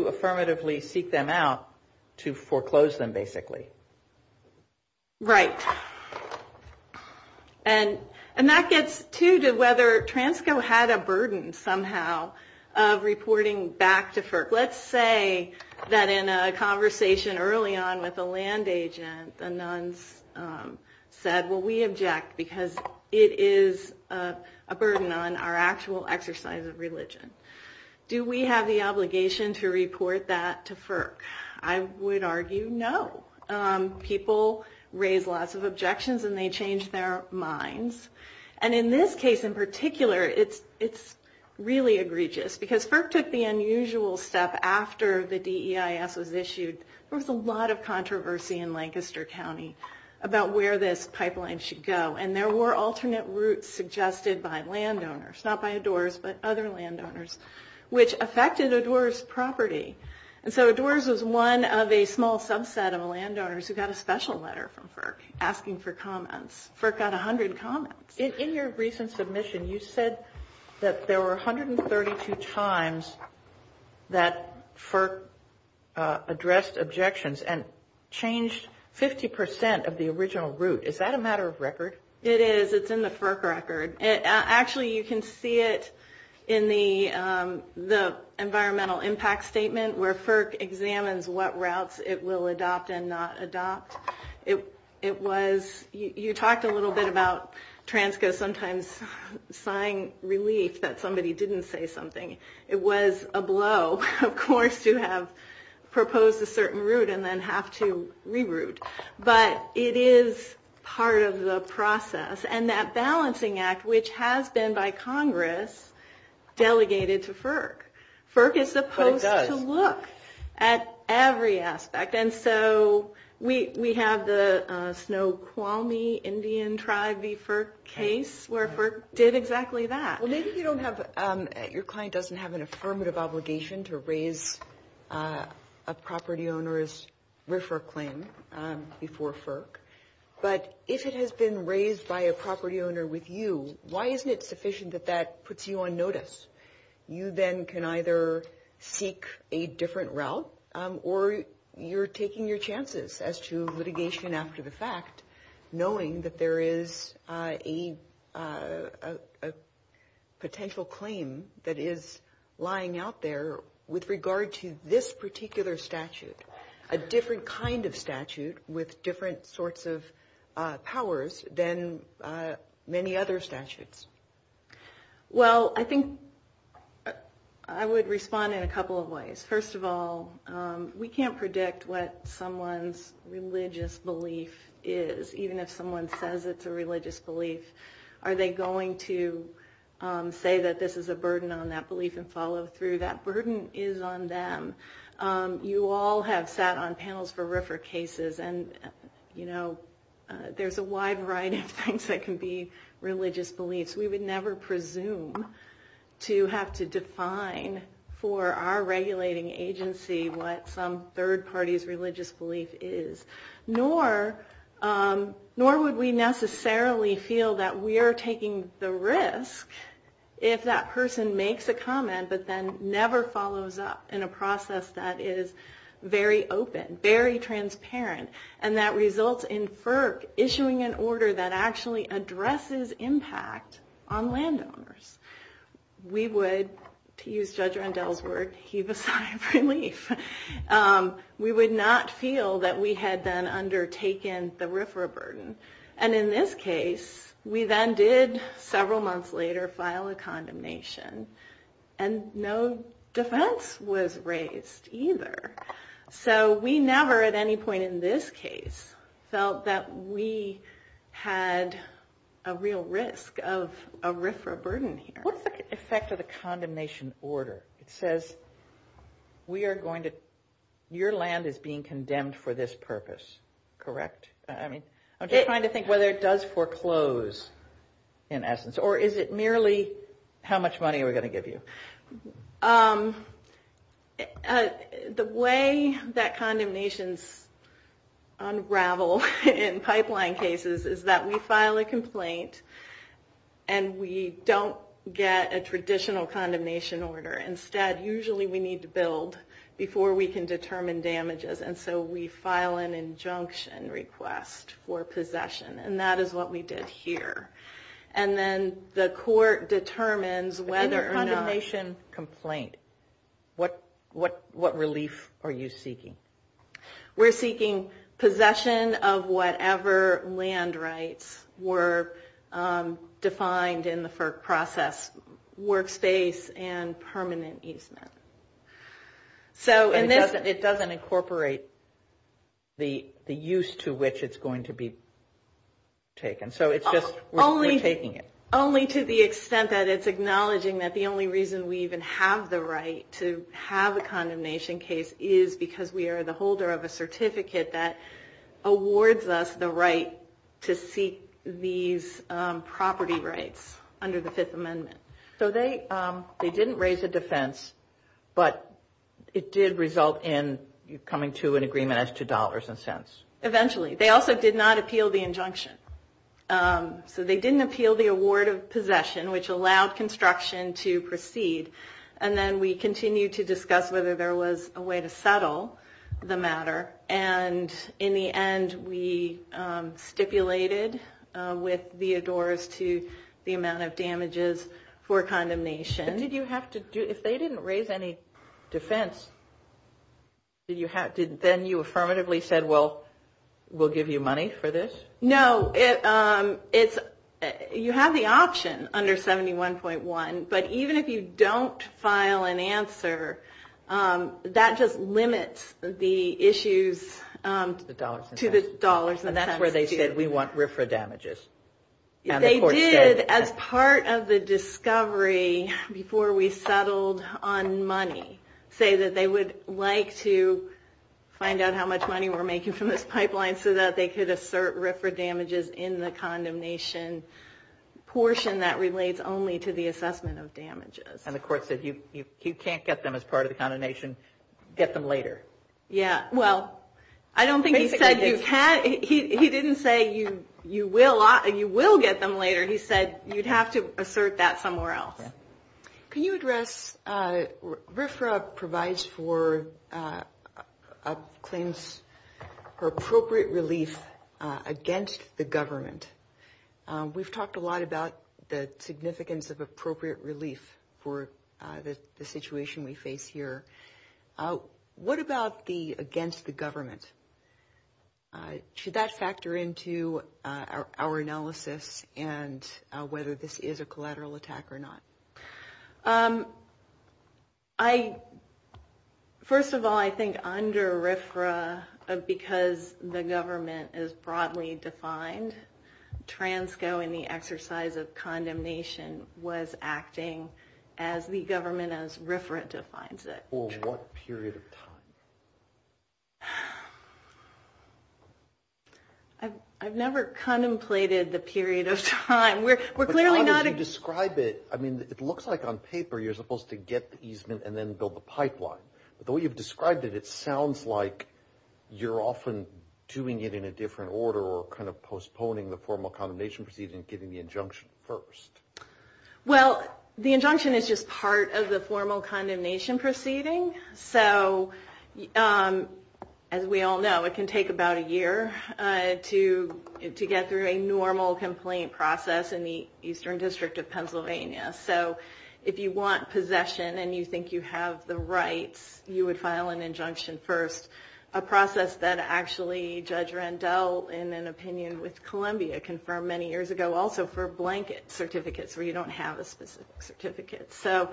affirmatively seek them out to foreclose them, basically. Right. And that gets to whether Transco had a burden, somehow, of reporting back to FERC. Let's say that in a conversation early on with a land agent, the nuns said, well, we object because it is a burden on our actual exercise of religion. Do we have the obligation to report that to FERC? I would argue no. People raise lots of objections, and they change their minds. And in this case, in particular, it's really egregious. Because FERC took the unusual step after the DEIS was issued. There was a lot of controversy in Lancaster County about where this pipeline should go. And there were alternate routes suggested by landowners, not by Adores, but other landowners, which affected Adores' property. And so Adores was one of a small subset of landowners who got a special letter from FERC asking for comments. FERC got 100 comments. In your recent submission, you said that there were 132 times that FERC addressed objections and changed 50% of the original route. Is that a matter of record? It is. It's in the FERC record. Actually, you can see it in the environmental impact statement, where FERC examines what routes it will adopt and not adopt. You talked a little bit about Transco sometimes sighing relief that somebody didn't say something. It was a blow, of course, to have proposed a certain route and then have to reroute. But it is part of the process. And that balancing act, which has been by Congress, delegated to FERC. FERC is supposed to look at every aspect. And so we have the Snoqualmie Indian tribe v. FERC case, where FERC did exactly that. Well, maybe your client doesn't have an affirmative obligation to raise a property owner's RFIR claim before FERC. But if it has been raised by a property owner with you, why isn't it sufficient that that puts you on notice? You then can either seek a different route or you're taking your chances as to litigation after the fact, knowing that there is a potential claim that is lying out there with regard to this particular statute, a different kind of statute with different sorts of powers than many other statutes. Well, I think I would respond in a couple of ways. First of all, we can't predict what someone's religious belief is, even if someone says it's a religious belief. Are they going to say that this is a burden on that belief and follow through? That burden is on them. You all have sat on panels for RFIR cases, and there's a wide variety of things that can be religious beliefs. We would never presume to have to define for our regulating agency what some third party's religious belief is, nor would we necessarily feel that we are taking the risk if that person makes a comment but then never follows up in a process that is very open, very transparent, and that results in FERC issuing an order that actually addresses impact on landowners. We would, to use Judge Rondell's word, heave a sigh of relief. We would not feel that we had then undertaken the RFIR burden. And in this case, we then did, several months later, file a condemnation. And no defense was raised, either. So we never, at any point in this case, felt that we had a real risk of RFIR burden here. What's the effect of the condemnation order? It says, we are going to, your land is being condemned for this purpose, correct? I mean, I'm just trying to think whether it does foreclose, in essence, or is it merely how much money are we going to give you? The way that condemnations unravel in pipeline cases is that we file a complaint and we don't get a traditional condemnation order. Instead, usually we need to build before we can determine damages. And so we file an injunction request for possession. And that is what we did here. And then the court determines whether or not... In a condemnation complaint, what relief are you seeking? We're seeking possession of whatever land rights were defined in the FERC process, workspace and permanent easement. So it doesn't incorporate the use to which it's going to be taken. So it's just we're taking it. Only to the extent that it's acknowledging that the only reason we even have the right to have a condemnation case is because we are the holder of a certificate that awards us the right to seek these property rights under the Fifth Amendment. So they didn't raise a defense, but it did result in you coming to an agreement as to dollars and cents. Eventually. They also did not appeal the injunction. So they didn't appeal the award of possession, which allowed construction to proceed. And then we continued to discuss whether there was a way to settle the matter. And in the end, we stipulated with Theodore's to the amount of damages for condemnation. Did you have to do... If they didn't raise any defense, then you affirmatively said, well, we'll give you money for this? No. You have the option under 71.1. But even if you don't file an answer, that just limits the issues to the dollars and cents. And that's where they said, we want RFRA damages. They did, as part of the discovery before we settled on money, say that they would like to find out how much money we're making from this pipeline so that they could assert RFRA damages in the condemnation portion that relates only to the assessment of damages. And the court said, you can't get them as part of the condemnation. Get them later. Yeah. Well, I don't think he said you can't. He didn't say you will get them later. He said you'd have to assert that somewhere else. Can you address... RFRA provides for claims for appropriate relief against the government. We've talked a lot about the significance of appropriate relief for the situation we face here. What about the against the government? Should that factor into our analysis and whether this is a collateral attack or not? First of all, I think under RFRA, because the government is broadly defined, Transco in the exercise of condemnation was acting as the government as RFRA defines it. For what period of time? I've never contemplated the period of time. It looks like on paper you're supposed to get the easement and then build the pipeline. But the way you've described it, it sounds like you're often doing it in a different order or kind of postponing the formal condemnation proceeding and getting the injunction first. Well, the injunction is just part of the formal condemnation proceeding. So as we all know, it can take about a year to get through a normal complaint process in the Eastern District of Pennsylvania. So if you want possession and you think you have the rights, you would file an injunction first, a process that actually Judge Randell in an opinion with Columbia confirmed many years ago, also for blanket certificates where you don't have a specific certificate. So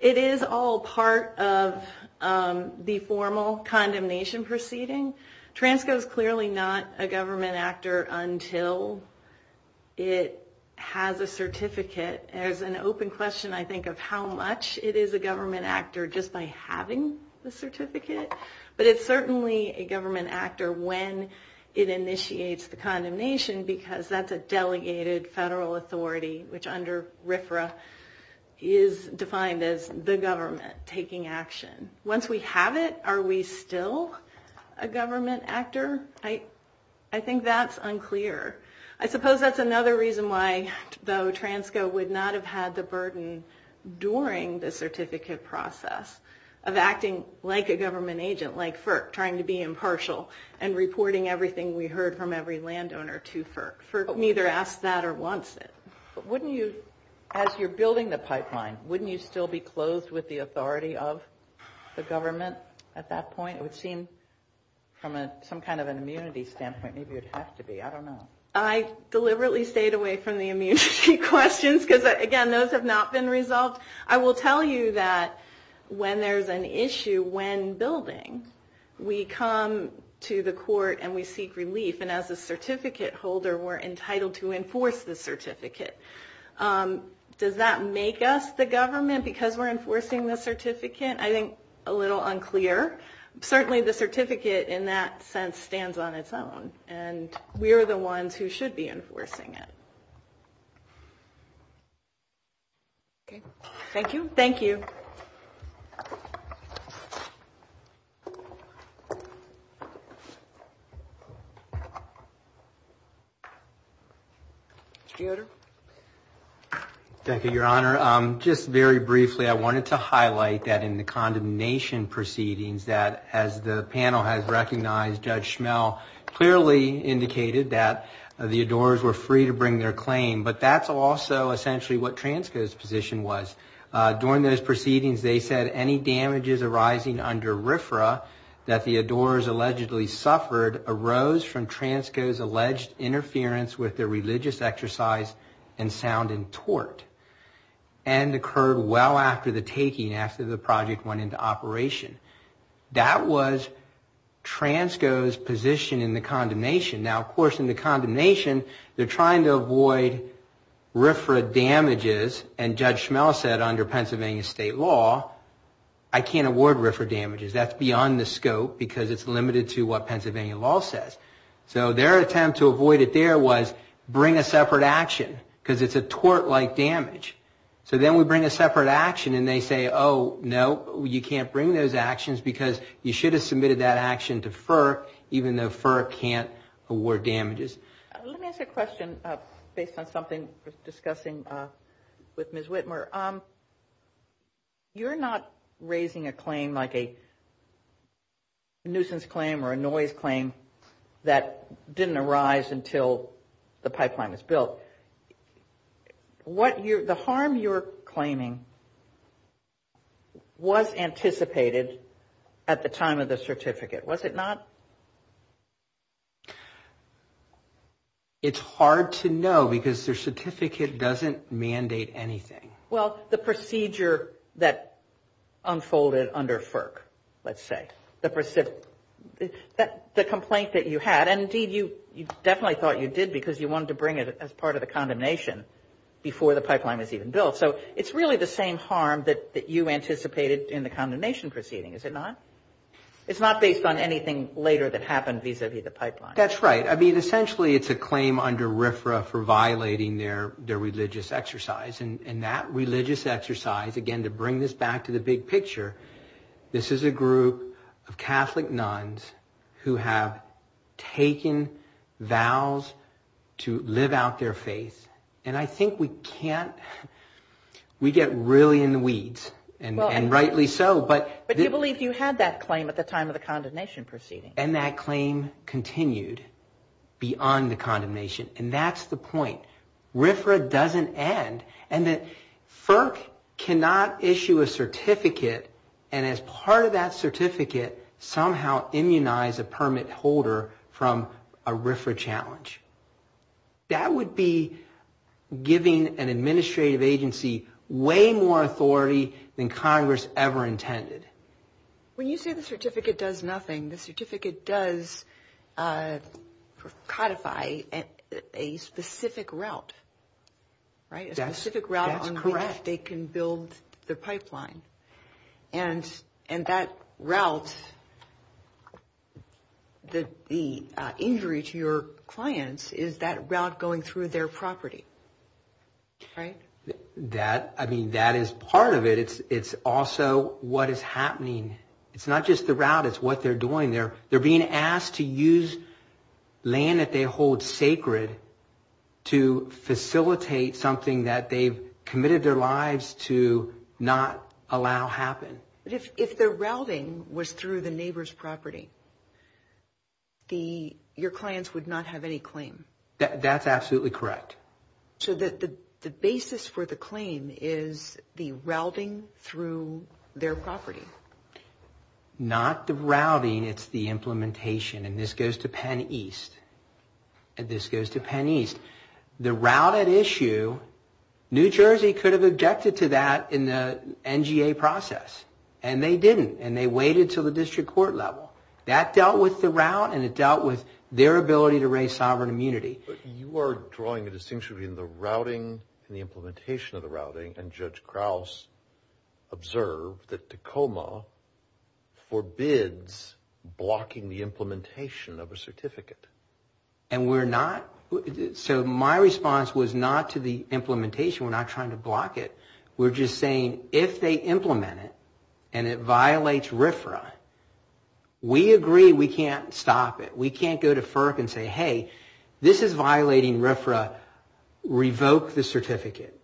it is all part of the formal condemnation proceeding. Transco is clearly not a government actor until it has a certificate. There's an open question, I think, of how much it is a government actor just by having the certificate. But it's certainly a government actor when it initiates the condemnation because that's a delegated federal authority, which under RFRA is defined as the government taking action. Once we have it, are we still a government actor? I think that's unclear. I suppose that's another reason why, though, Transco would not have had the burden during the certificate process of acting like a government agent, like FERC, trying to be impartial and reporting everything we heard from every landowner to FERC. FERC neither asks that or wants it. As you're building the pipeline, wouldn't you still be closed with the authority of the government at that point? It would seem from some kind of an immunity standpoint, maybe it would have to be. I don't know. I deliberately stayed away from the immunity questions because, again, those have not been resolved. I will tell you that when there's an issue when building, we come to the court and we seek relief. As a certificate holder, we're entitled to enforce the certificate. Does that make us the government because we're enforcing the certificate? I think a little unclear. Certainly the certificate in that sense stands on its own, and we're the ones who should be enforcing it. Thank you. Thank you. Judge Schmell. Thank you, Your Honor. Just very briefly, I wanted to highlight that in the condemnation proceedings, that as the panel has recognized, Judge Schmell clearly indicated that the adorers were free to bring their claim, but that's also essentially what Transco's position was. During those proceedings, they said any damages arising under RFRA that the adorers allegedly suffered arose from Transco's alleged interference with their religious exercise and sound and tort, and occurred well after the taking, after the project went into operation. That was Transco's position in the condemnation. Now, of course, in the condemnation, they're trying to avoid RFRA damages, and Judge Schmell said under Pennsylvania state law, I can't award RFRA damages. That's beyond the scope, because it's limited to what Pennsylvania law says. So their attempt to avoid it there was bring a separate action, because it's a tort-like damage. So then we bring a separate action, and they say, oh, no, you can't bring those actions, because you should have submitted that action to FER, even though FER can't award damages. Let me ask a question based on something discussing with Ms. Whitmer. You're not raising a claim like a nuisance claim or a noise claim that didn't arise until the pipeline was built. The harm you're claiming was anticipated at the time of the certificate, was it not? It's hard to know, because their certificate doesn't mandate anything. Well, the procedure that unfolded under FERC, let's say, the complaint that you had, and indeed you definitely thought you did because you wanted to bring it as part of the condemnation before the pipeline was even built. So it's really the same harm that you anticipated in the condemnation proceeding, is it not? It's not based on anything later that happened vis-a-vis the pipeline. That's right. I mean, essentially it's a claim under RFRA for violating their religious exercise, and that religious exercise, again, to bring this back to the big picture, this is a group of Catholic nuns who have taken vows to live out their faith, and I think we can't, we get really in the weeds, and rightly so. But you believed you had that claim at the time of the condemnation proceeding. And that claim continued beyond the condemnation, and that's the point. RFRA doesn't end. And FERC cannot issue a certificate and as part of that certificate somehow immunize a permit holder from a RFRA challenge. That would be giving an administrative agency way more authority than Congress ever intended. When you say the certificate does nothing, the certificate does codify a specific route, right? That's correct. A specific route on which they can build their pipeline. And that route, the injury to your clients is that route going through their property, right? That is part of it. It's also what is happening. It's not just the route. It's what they're doing. They're being asked to use land that they hold sacred to facilitate something that they've committed their lives to not allow happen. But if the routing was through the neighbor's property, your clients would not have any claim. That's absolutely correct. So the basis for the claim is the routing through their property. Not the routing. It's the implementation. And this goes to Penn East. This goes to Penn East. The route at issue, New Jersey could have objected to that in the NGA process. And they didn't. And they waited until the district court level. That dealt with the route, and it dealt with their ability to raise sovereign immunity. But you are drawing a distinction between the routing and the implementation of the routing. And Judge Krause observed that Tacoma forbids blocking the implementation of a certificate. And we're not. So my response was not to the implementation. We're not trying to block it. We're just saying if they implement it and it violates RFRA, we agree we can't stop it. We can't go to FERC and say, hey, this is violating RFRA. Revoke the certificate.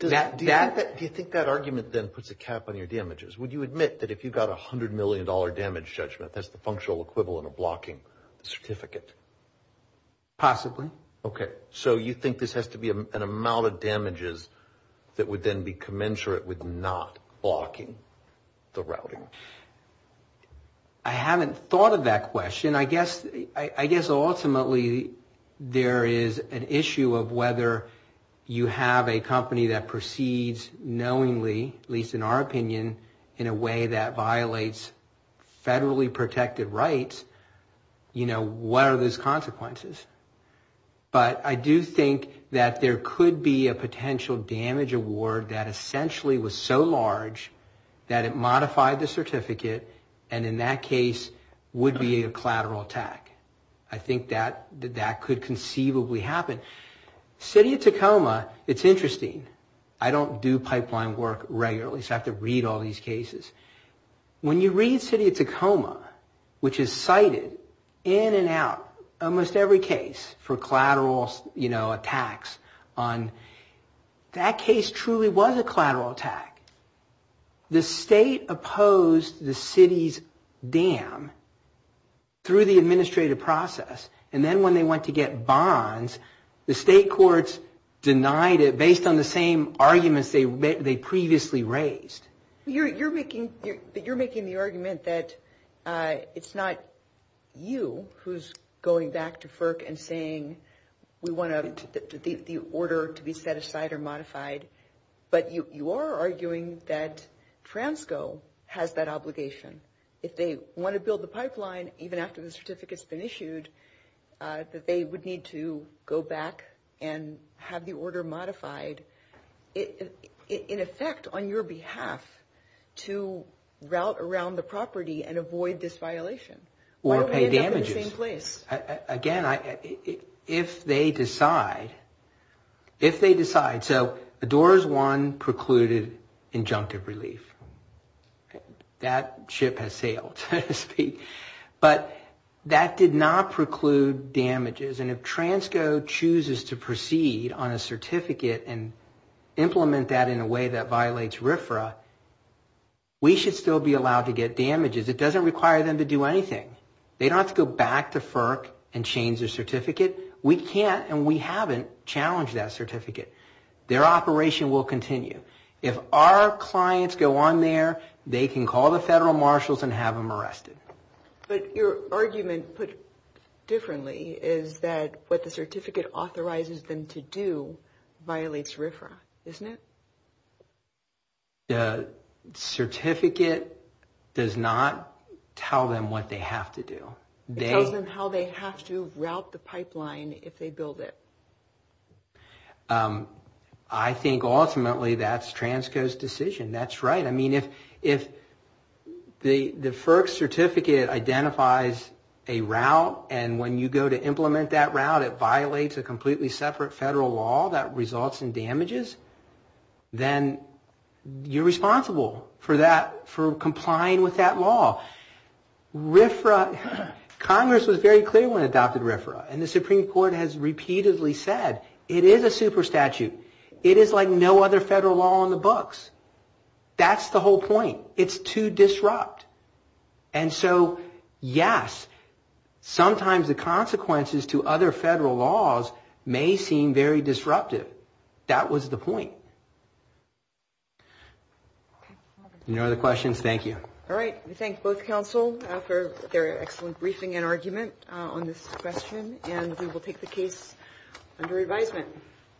Do you think that argument then puts a cap on your damages? Would you admit that if you got a $100 million damage judgment, that that's the functional equivalent of blocking the certificate? Possibly. Okay. So you think this has to be an amount of damages that would then be commensurate with not blocking the routing? I haven't thought of that question. I guess ultimately there is an issue of whether you have a company that proceeds knowingly, at least in our opinion, in a way that violates federally protected rights. You know, what are those consequences? But I do think that there could be a potential damage award that essentially was so large that it modified the certificate and in that case would be a collateral attack. I think that could conceivably happen. City of Tacoma, it's interesting. I don't do pipeline work regularly, so I have to read all these cases. When you read City of Tacoma, which is cited in and out, almost every case for collateral attacks, that case truly was a collateral attack. The state opposed the city's dam through the administrative process and then when they went to get bonds, the state courts denied it based on the same arguments they previously raised. You're making the argument that it's not you who's going back to FERC and saying, we want the order to be set aside or modified, but you are arguing that Transco has that obligation. If they want to build the pipeline, even after the certificate's been issued, that they would need to go back and have the order modified in effect on your behalf to route around the property and avoid this violation. Or pay damages. Again, if they decide, if they decide. All right, so the Doors 1 precluded injunctive relief. That ship has sailed, so to speak. But that did not preclude damages. And if Transco chooses to proceed on a certificate and implement that in a way that violates RFRA, we should still be allowed to get damages. It doesn't require them to do anything. They don't have to go back to FERC and change their certificate. We can't and we haven't challenged that certificate. Their operation will continue. If our clients go on there, they can call the federal marshals and have them arrested. But your argument put differently is that what the certificate authorizes them to do violates RFRA, isn't it? The certificate does not tell them what they have to do. It tells them how they have to route the pipeline if they build it. I think ultimately that's Transco's decision. That's right. I mean, if the FERC certificate identifies a route and when you go to implement that route, it violates a completely separate federal law that results in damages, then you're responsible for that, for complying with that law. RFRA, Congress was very clear when it adopted RFRA. And the Supreme Court has repeatedly said it is a super statute. It is like no other federal law on the books. That's the whole point. It's too disrupt. And so, yes, sometimes the consequences to other federal laws may seem very disruptive. That was the point. Any other questions? Thank you. All right. We thank both counsel for their excellent briefing and argument on this question. And we will take the case under advisement.